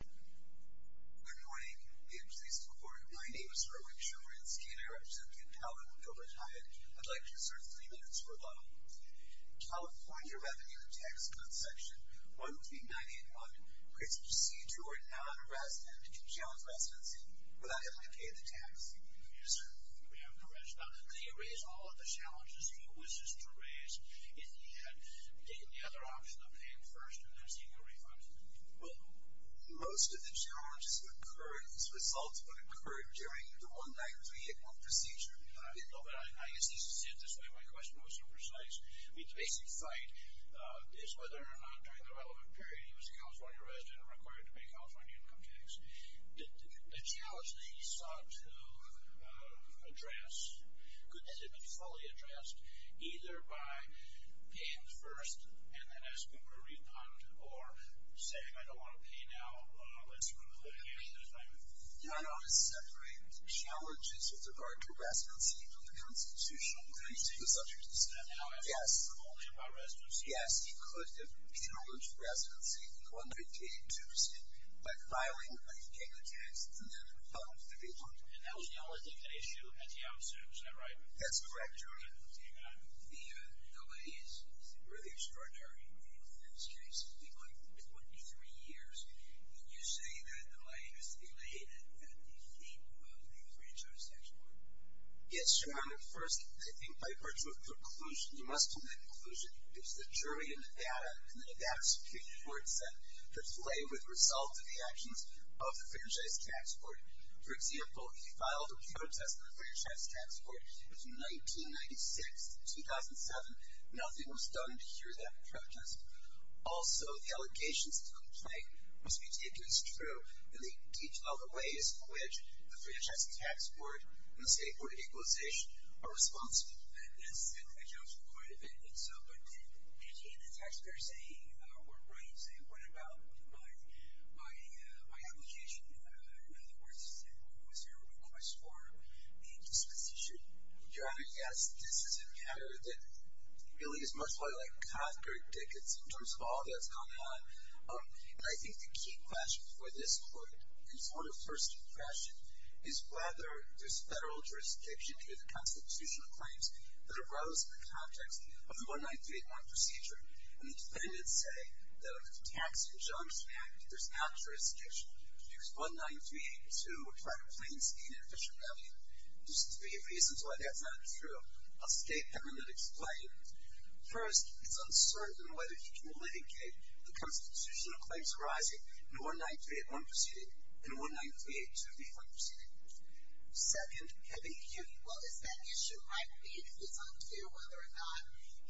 Good morning, the interviewee is before you. My name is Herwin Shiverance. Can I represent you in power when you retire? I'd like to insert three minutes for a vote. I'll appoint your revenue and tax cuts section. One would be 9-8-1. It's a procedure where a non-resident can challenge residency without having to pay the tax. Yes, sir. We have a correction. Now, didn't he raise all of the challenges he wishes to raise in the end? Didn't the other option of paying first and then seeking a refund? Well, most of the challenges would occur, the results would occur during the one-night-three-month procedure. No, but I guess he said it this way. My question wasn't so precise. I mean, the basic fight is whether or not during the relevant period he was a California resident and required to pay California income tax. The challenge that he sought to address could have been fully addressed either by paying first and then asking for a refund or saying, I don't want to pay now, let's remove the vacation. Dono is separating the challenges with regard to residency from the constitutional reasons. Now, I'm talking only about residency. Yes, he could have challenged residency one-night-day in Tuesday by filing an income tax in the month of April. And that was the only thing that he should have had the option to do, is that right? That's correct, Jeremy. The delay is really extraordinary in this case. It's been going for 23 years. Would you say that delay is related to the fate of the Fairtrade Tax Court? Yes, Jeremy. First, I think by virtue of conclusion, you must commit conclusion, it's the jury and the data, and the data is secured for itself. The delay was the result of the actions of the Fairtrade Tax Court. For example, he filed a protest in the Fairtrade Tax Court in 1996. In 2007, nothing was done to hear that protest. Also, the allegations of complaint was meticulously true in the detail of the ways in which the Fairtrade Tax Court and the State Board of Equalization are responsible. Yes, and I jumped to the point of it. And so, what did he and the taxpayer say were right in saying, What about my application? In other words, was there a request for the indispensation? Your Honor, yes. This is a matter that really is much more like Cothbert Dicketts in terms of all that's going on. And I think the key question for this court, and for the first impression, is whether this federal jurisdiction through the constitutional claims that arose in the context of the 1931 procedure, and the defendants say that if it's a tax-injunction act, there's no jurisdiction. Because 19382 would try to plain-speak an official value. There's three reasons why that's not true. I'll state them and then explain. First, it's uncertain whether he can litigate the constitutional claims arising in 19381 proceeding and 19382B1 proceeding. Second, heavy duty. Well, is that issue, I believe, if it's unclear whether or not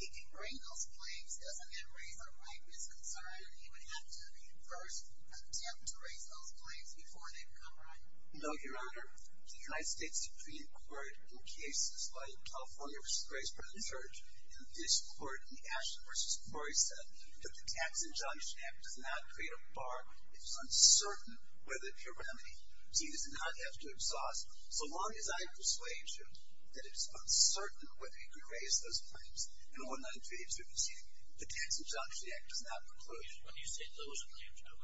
he can bring those claims, doesn't that raise a rightness concern that he would have to first attempt to raise those claims before they become right? No, Your Honor. The United States Supreme Court, in cases like California v. Graysburg and Church, in this court, in Ashton v. Murray, said that the tax-injunction act does not create a bar. It's uncertain whether it's a remedy. He does not have to exhaust. So long as I persuade you that it's uncertain whether he could raise those claims in 19382 proceeding, the tax-injunction act does not preclude. When you say those claims, which claims are you referring to when you say those claims? I'm speaking of the constitutional claims that arose in the context of the 19381 procedure to process people protection claims. And what's the nature of those to process people protection claims?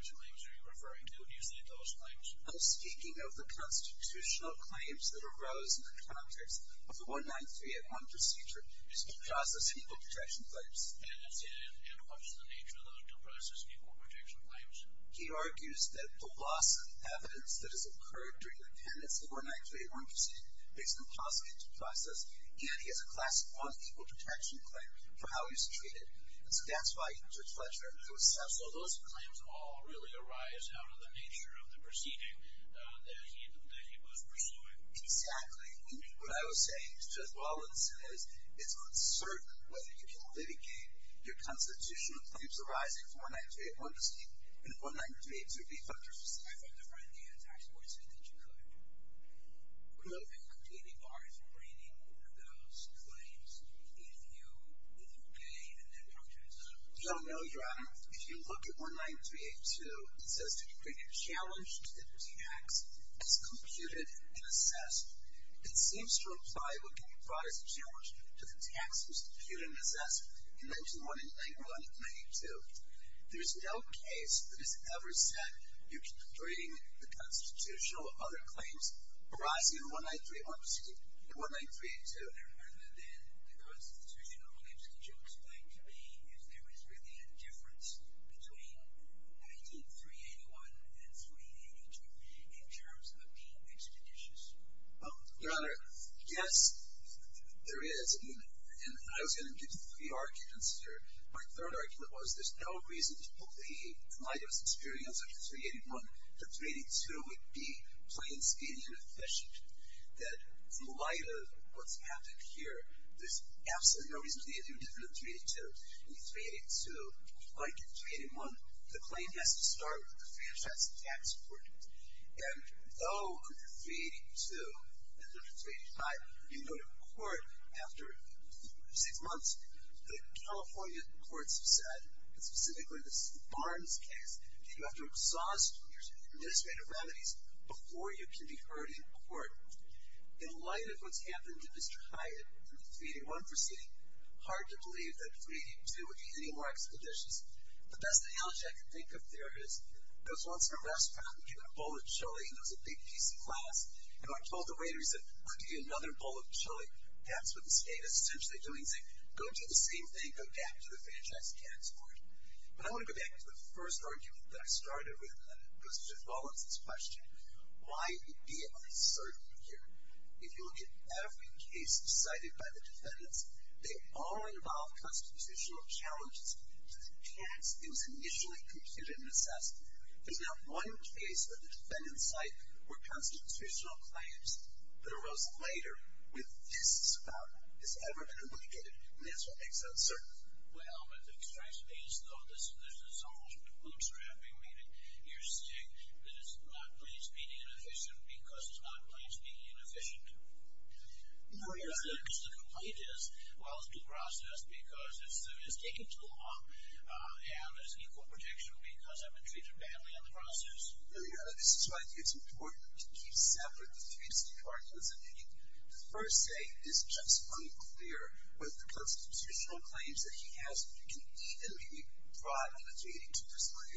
He argues that the loss of evidence that has occurred during the pendency of 19381 proceeding makes them possible to process. And he has a class 1 equal protection claim for how he was treated. And so that's why he's a pleasure to assess. So those claims all really arise out of the nature of the proceeding that he was pursuing? Exactly. What I was saying to Judge Rollins is it's uncertain whether you can litigate your constitutional claims arising in 19381 proceeding in 19382 v. Fletchers. I thought the front end of the tax court said that you could. No. And could we be barred from reading one of those claims if you gave an impunctuous... No, no, Your Honor. If you look at 19382, it says that you bring a challenge to the tax as computed and assessed. It seems to imply what can be brought as a challenge to the tax as computed and assessed. You mentioned one in 1991 and 1992. There's no case that has ever said you're completing the constitutional other claims arising in 19382. And then the constitutional claims, could you explain to me if there is really a difference between 19381 and 19382 in terms of being expeditious? Well, Your Honor, yes, there is. And I was going to give the pre-argument answer. My third argument was there's no reason to believe, in light of his experience of 19381, that 19382 would be plain-speaking and efficient, that in light of what's happened here, there's absolutely no reason to believe that if you look at 19382 and 19382, like in 19381, the claim has to start with the Fairfax Tax Court. And, oh, in 19382 and 19385, you go to court after six months, the California courts have said, and specifically this is the Barnes case, that you have to exhaust your administrative remedies before you can be heard in court. In light of what's happened to Mr. Hyatt in the 381 proceeding, hard to believe that 382 would be any more expeditious. The best analogy I can think of there is, there was once a restaurant, they had a bowl of chili, and it was a big piece of glass. And I told the waiter, he said, I'll give you another bowl of chili. That's what the state is essentially doing, saying, go do the same thing, go back to the Fairfax Tax Court. But I want to go back to the first argument that I started with, because it follows this question, why it be uncertain here. If you look at every case cited by the defendants, they all involve constitutional challenges. The tax that was initially computed and assessed, there's not one case where the defendants cite were constitutional claims, that arose later with this, has ever been obligated, and that's what makes it uncertain. Well, but it strikes me as though this is almost bootstrapping, meaning you're saying that it's not plain speaking inefficient because it's not plain speaking inefficient. No, Your Honor. The complaint is, well, it's due process, because it's taken too long, and there's equal protection because I've been treated badly in the process. No, Your Honor, this is why I think it's important to keep separate the three key arguments. I think the first thing is just unclear whether the constitutional claims that he has can even be brought into the proceeding.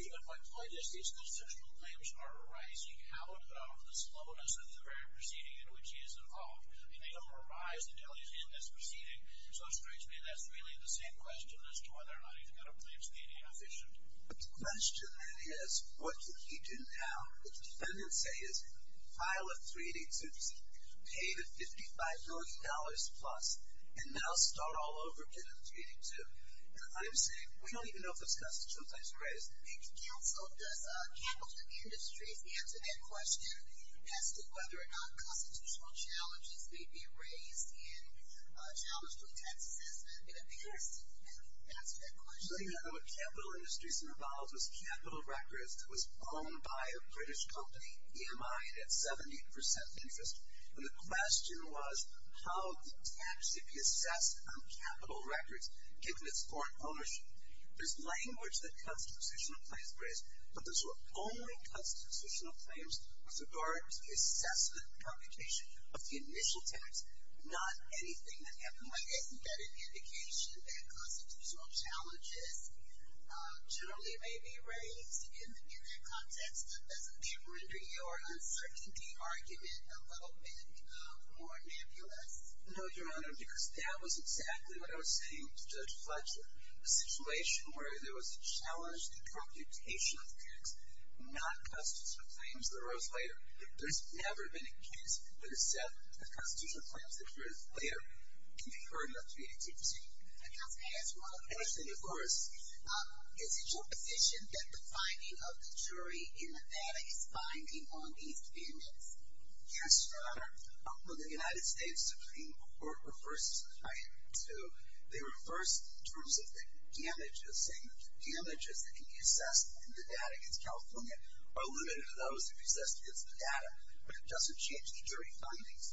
Even my point is these constitutional claims are arising out of the slowness of the very proceeding in which he is involved, and they don't arise until he's in this proceeding, so it strikes me that's really the same question as to whether or not he's got a plain speaking inefficient. The question is, what can he do now? What the defendants say is file a 382, pay the $55 million plus, and now start all over again with a 382, and I'm saying we don't even know if it's constitutional claims to be raised. Counsel, does Capital Industries answer that question as to whether or not constitutional challenges may be raised in a challenge to a tax assessment in advance to answer that question? No, Your Honor, what Capital Industries involves was capital records that was owned by a British company, EMI, and at 70% interest, and the question was how the tax could be assessed on capital records given its foreign ownership. There's language that constitutional claims raise, but those were only constitutional claims with regard to the assessment and computation of the initial tax, not anything that happened where they embedded the indication that constitutional challenges generally may be raised in that context, but doesn't that render your uncertainty argument a little bit more nebulous? No, Your Honor, because that was exactly what I was saying to Judge Fletcher, a situation where there was a challenge to computation of tax, not constitutional claims that arose later. There's never been a case where the set of constitutional claims that arose later can be heard in a 382 proceeding. I'd like to ask one other question, of course. Is it your position that the finding of the jury in the data is binding on these defendants? Yes, Your Honor. Well, the United States Supreme Court refers to the first terms of the damages, and the damages that can be assessed in the data against California are limited to those that can be assessed against the data, but it doesn't change the jury findings.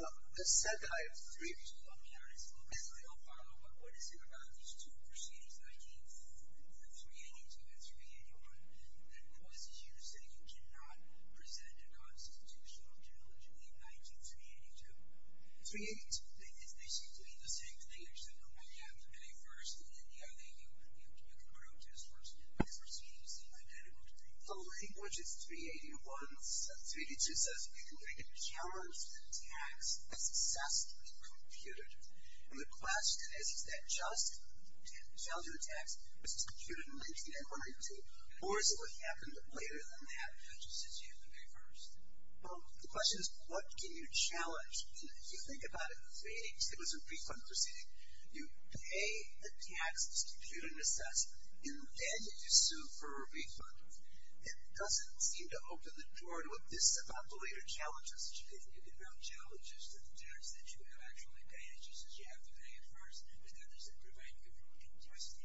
The second item, the three of you, let me ask you a real follow-up. What is it about these two proceedings, 382 and 381, that causes you to say you cannot present a constitutional challenge in the 19th 382? 382, they seem to be the same thing. They're separate. You have to pay first, and then the other thing, you can go to a source, and you have to proceed to see my medical degree. The language is 381. 382 says you can make a charge in tax that's assessed and computed, and the question is, is that just challenging the tax, which is computed in 19th 382, or is it what happened later than that, which is as you say, the very first? Well, the question is, what can you challenge? And if you think about it, if it was a refund proceeding, you pay the tax that's computed and assessed, and then you sue for a refund. It doesn't seem to open the door to what this above-the-label challenge is. But if you think about challenges to the tax that you have actually paid, it's just that you have to pay it first, and then there's a preventive testing.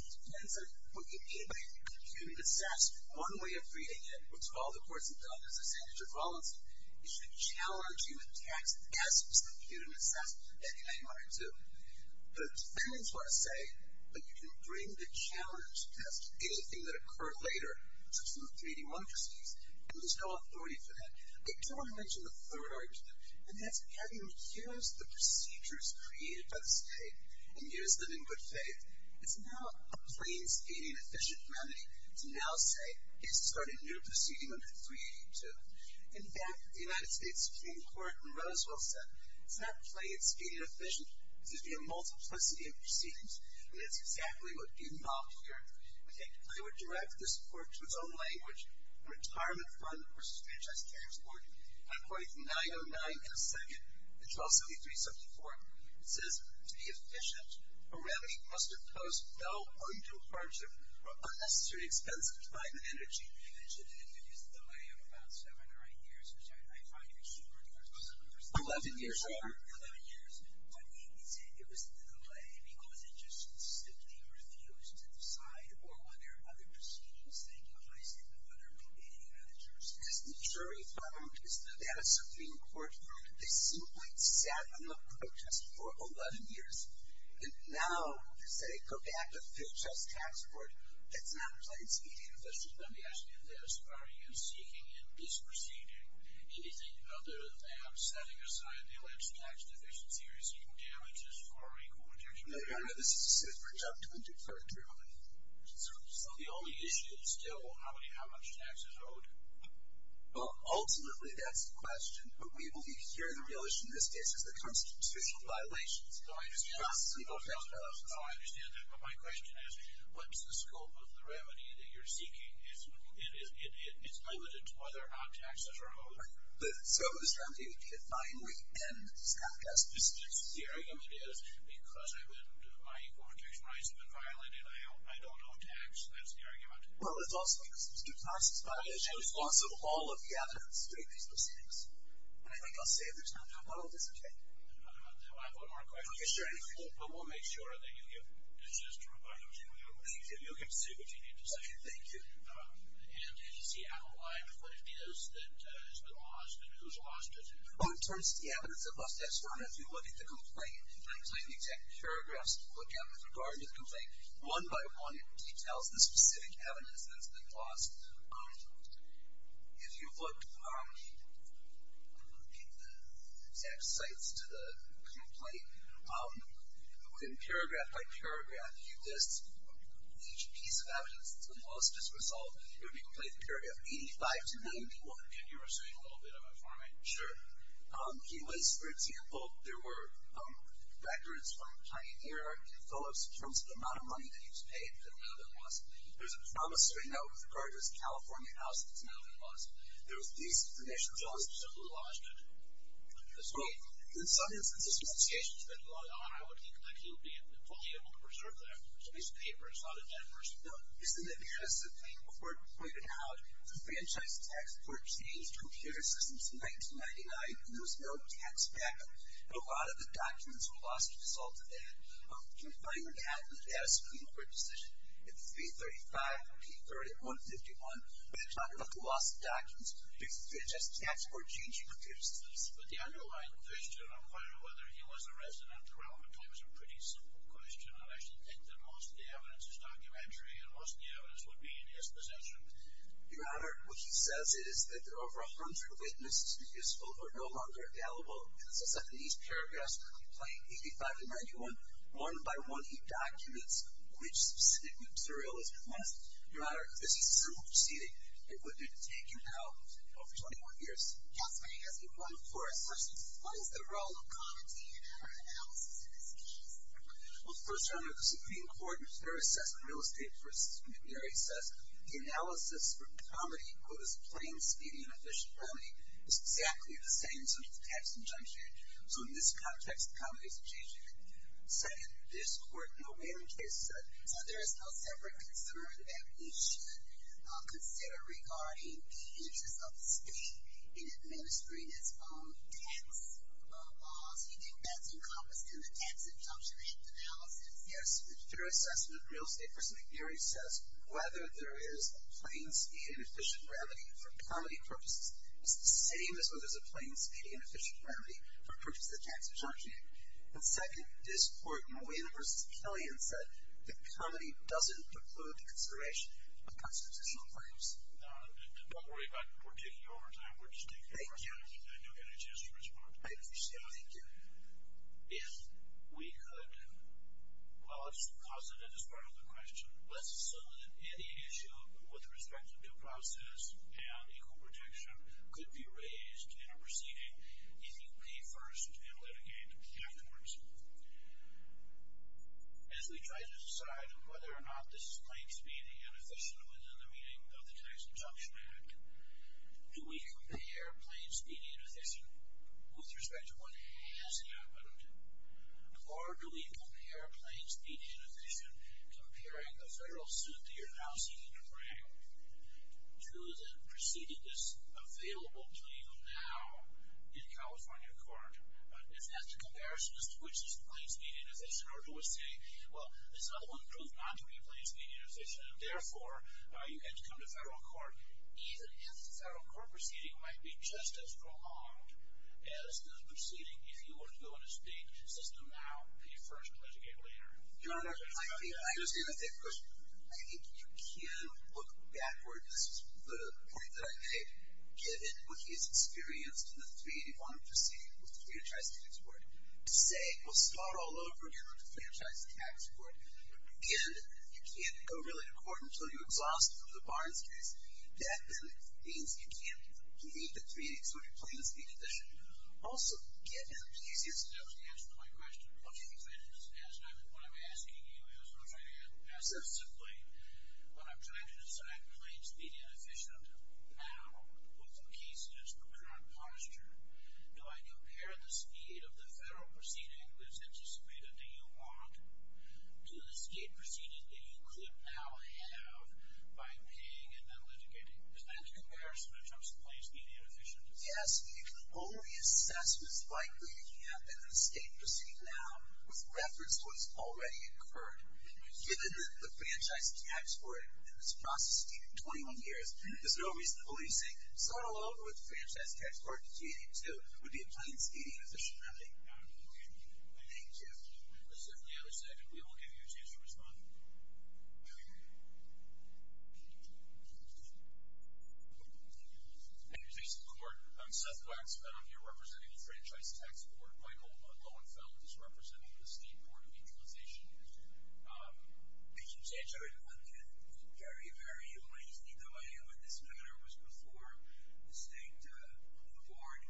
It depends on what you mean by computed and assessed. One way of reading it, which all the courts have done, is the same as your policy. You should challenge human tax as it's computed and assessed in 19th 382. The defendants want to say that you can bring the challenge to ask anything that occurred later, such as the 3D motor skis. There's no authority for that. I do want to mention the third argument, and that's having used the procedures created by the state and used them in good faith. It's not a plain, speedy, and efficient remedy to now say, okay, start a new proceeding under 382. In fact, the United States Supreme Court in Roswell said, it's not plain, speedy, and efficient, it's a multiplicity of proceedings. And that's exactly what's being talked here. I think they would direct this court to its own language, the Retirement Fund versus Franchise Transport, at point 909 and 2nd, and 1273-74. It says, to be efficient, a remedy must impose no undue hardship or unnecessary expense to climate and energy. You mentioned that there was a delay of about seven or eight years, which I find very humorous. 11 years. 11 years. 11 years. But it was the delay because it just simply refused to decide or whether other proceedings would be any better. Because the jury found, because they had a Supreme Court ruling, they simply sat on the protest for 11 years. And now, they say, go back to Franchise Transport. That's not plain, speedy, and efficient. Let me ask you this. Are you seeking and disproceeding anything other than setting aside the alleged tax-deficiency risk and damages for equal protection? No, Your Honor, this is a super-duper triviality. So the only issue is still how many, how much taxes are owed? Well, ultimately, that's the question. But we believe here, the real issue in this case is the constitutional violations. So I understand that, but my question is, what's the scope of the remedy that you're seeking? It's limited to whether or not taxes are owed. The scope of the remedy would be to finally end tax deficits. The argument is, because my equal protection rights have been violated, I don't owe tax. That's the argument. Well, it's also because there's due process violations. There's also all of the other state-based proceedings. And I think I'll say it this time, but I'll disengage. I have one more question. Okay, sure, anything. But we'll make sure that you get this is true, by no means. Thank you. You can proceed with what you need to say. Okay, thank you. And is he out of line with what it is that has been lost, and who's lost it? Well, in terms of the evidence that was left, Your Honor, if you look at the complaint, if you look at the exact paragraphs you're supposed to look at with regard to the complaint, one by one it details the specific evidence that has been lost. If you look at the exact sites to the complaint, in paragraph by paragraph, you list each piece of evidence that's been lost. As a result, it would be completed in paragraph 85 to 91. Can you restate a little bit about farming? Sure. He was, for example, there were records from Pioneer, Phillips, in terms of the amount of money that he was paid that's now been lost. There's a promissory note with regard to his California house that's now been lost. There was these information, as well as... So who lost it? Well, in some instances... If the case has been lost, Your Honor, I would think that he would be totally able to preserve that piece of paper. It's not a dead person. No. Isn't it because, as the plaintiff reported out, the franchise tax court changed computer systems in 1999, and there was no tax back-up, and a lot of the documents were lost as a result of that. Can you find that in the data screen of your decision? It's 335, P30, 151. When you're talking about the loss of documents, just tax court changing computer systems. But the underlying question, I'm wondering whether he was a resident or not, is a pretty simple question. I actually think that most of the evidence is documentary, and most of the evidence would be in his possession. Your Honor, what he says is that there are over 100 witnesses who are no longer available. It says that in these paragraphs, 85 to 91, one by one, he documents which specific surrealism he wants. Your Honor, this is a simple proceeding. It would have taken, how, over 21 years? Counselor, he hasn't run for it. First, what is the role of comedy in our analysis of this case? Well, first, Your Honor, the Supreme Court, their assessment, real estate versus intermediary says, the analysis for comedy, quote, is a plain, speedy, and efficient remedy. It's exactly the same such as tax injunction. So, in this context, comedy is a change in it. Second, this Court, no, wait a minute. Yes, sir. So, there is no separate concern that he should consider regarding the interests of the state in administering its own tax laws? You think that's encompassed in the tax injunction and analysis? Yes. The fair assessment, real estate versus intermediary says, whether there is a plain, speedy, and efficient remedy for comedy purposes is the same as whether there is a plain, speedy, and efficient remedy for purposes of tax injunction. And second, this Court, no, wait a minute, versus Killian said, that comedy doesn't preclude the consideration of constitutional claims. Your Honor, don't worry about the court taking overtime. We're just taking our time. Thank you. I didn't know you had any chance to respond. I appreciate it. Thank you. If we could, well, I'll just posit it as part of the question. Let's assume that any issue with respect to due process and equal protection could be raised in a proceeding if you pay first and litigate afterwards. As we try to decide whether or not this is plain, speedy, and efficient within the meaning of the Tax Injunction Act, do we compare plain, speedy, and efficient with respect to what has happened? Or do we compare plain, speedy, and efficient comparing the federal suit that you're now seeking to bring to the precededness available to you now in California court? If that's the comparison as to which is plain, speedy, and efficient, or do we say, well, this other one proved not to be plain, speedy, and efficient, and therefore you had to come to federal court even if the federal court proceeding might be just as prolonged as the proceeding if you were to go to court so to speak, system out the first pledge you gave later? Your Honor, I understand that question. I think you can look backwards to the point that I made given what he has experienced in the 381 proceeding with the Federal Tax Tax Accord. To say, we'll start all over again with the Accord. I think that's the answer to my question. What I'm asking you and I'll try to answer this simply, when I'm trying to decide plain, speedy, and efficient now, with the case that's the current posture, do I compare the speed of the Federal Proceeding that's anticipated that you want to the State Proceeding that you could now have by paying and then litigating? Is that the comparison in terms of plain, speedy, and efficient? Yes. If the only assessment is likely to happen in the State Proceeding now, with reference to what's already incurred, given that the Franchise Tax Court in this is 21 years, there's no reason to believe, say, someone alone with the Franchise Tax Court in 1882 would be a plain, speedy, and efficient remedy. Thank you. Just on the other side, we will give you a chance to respond. Thank you, Chief of the Court. I'm Seth Watts, and I'm here the Franchise Tax Court. Michael Lowenfeld is representing the State Court of Mutualization. CURRENT Thank you, Chief of the Court. Very, very amazing testimony. This matter was before the State Court of Art.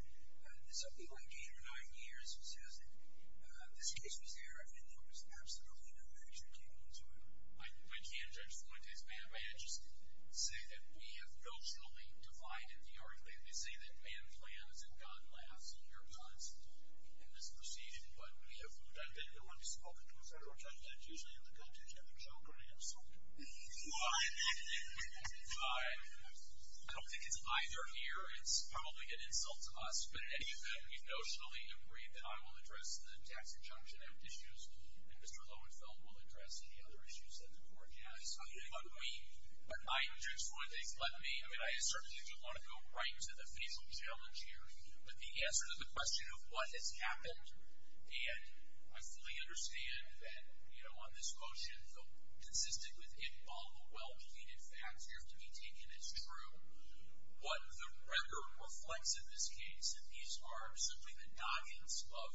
Something like eight or nine years, this case was there, and there was absolutely no action taken into it. I can't judge Fuentes, ma'am, but I just say that we have emotionally divided the argument. They say that man plans and God laughs at your thoughts in this proceeding, but we have not been the ones spoken to a federal judge that is usually in the country to have a joke or an insult. I don't think it's either here. It's probably an answer to the question of what has happened, and I fully understand that on this motion, consistent with all the well-plated facts, you have to be taken as true. What the record reflects in this case, and these are simply the doggings of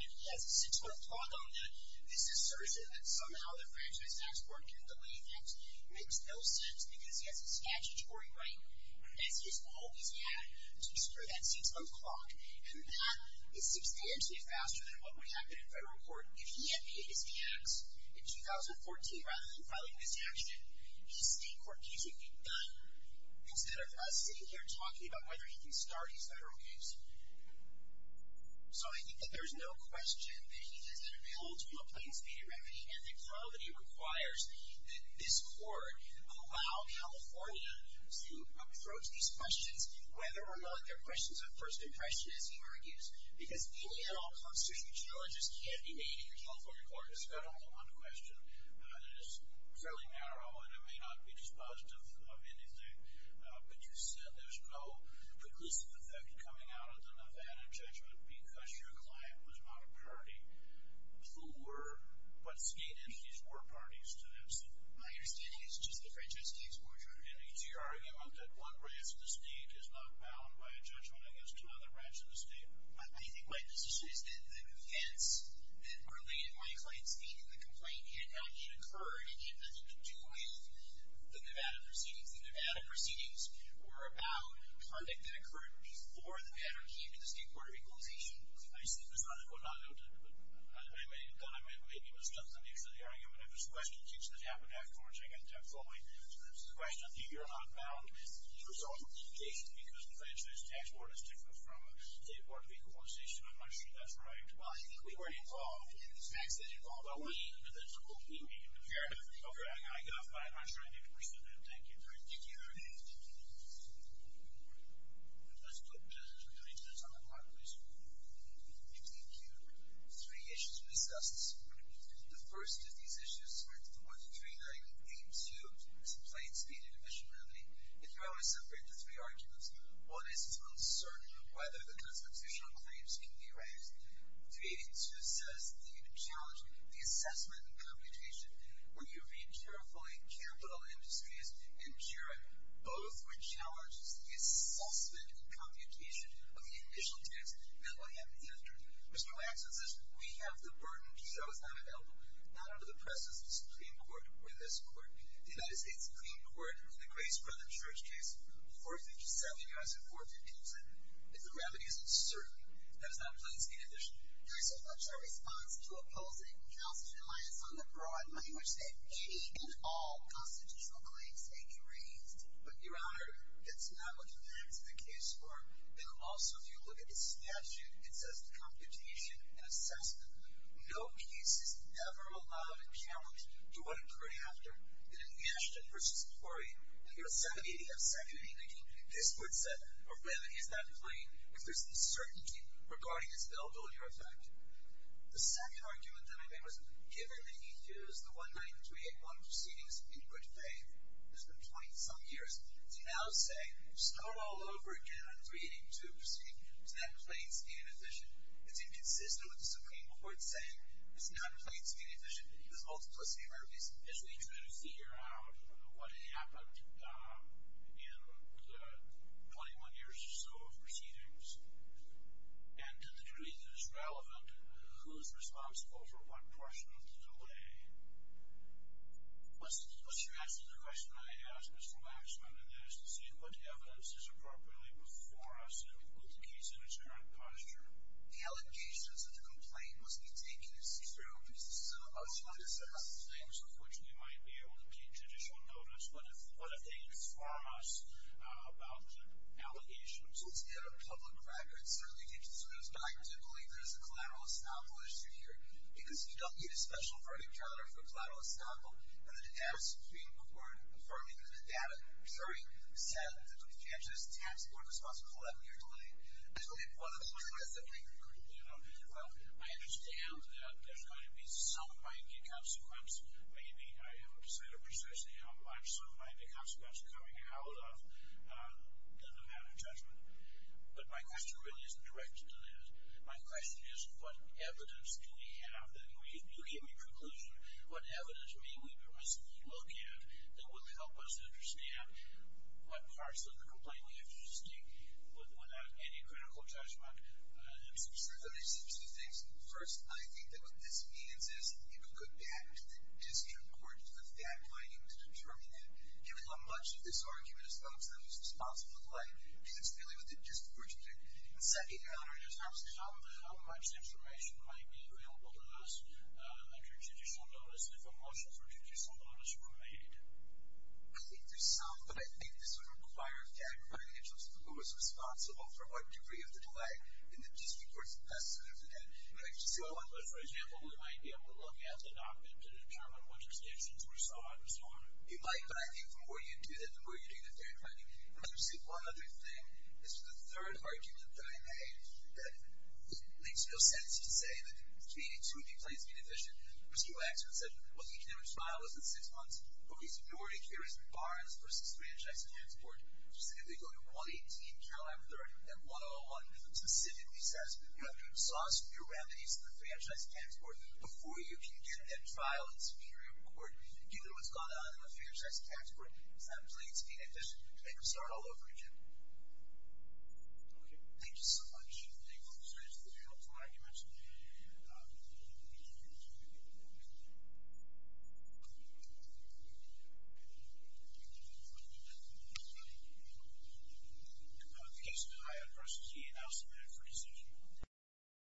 the two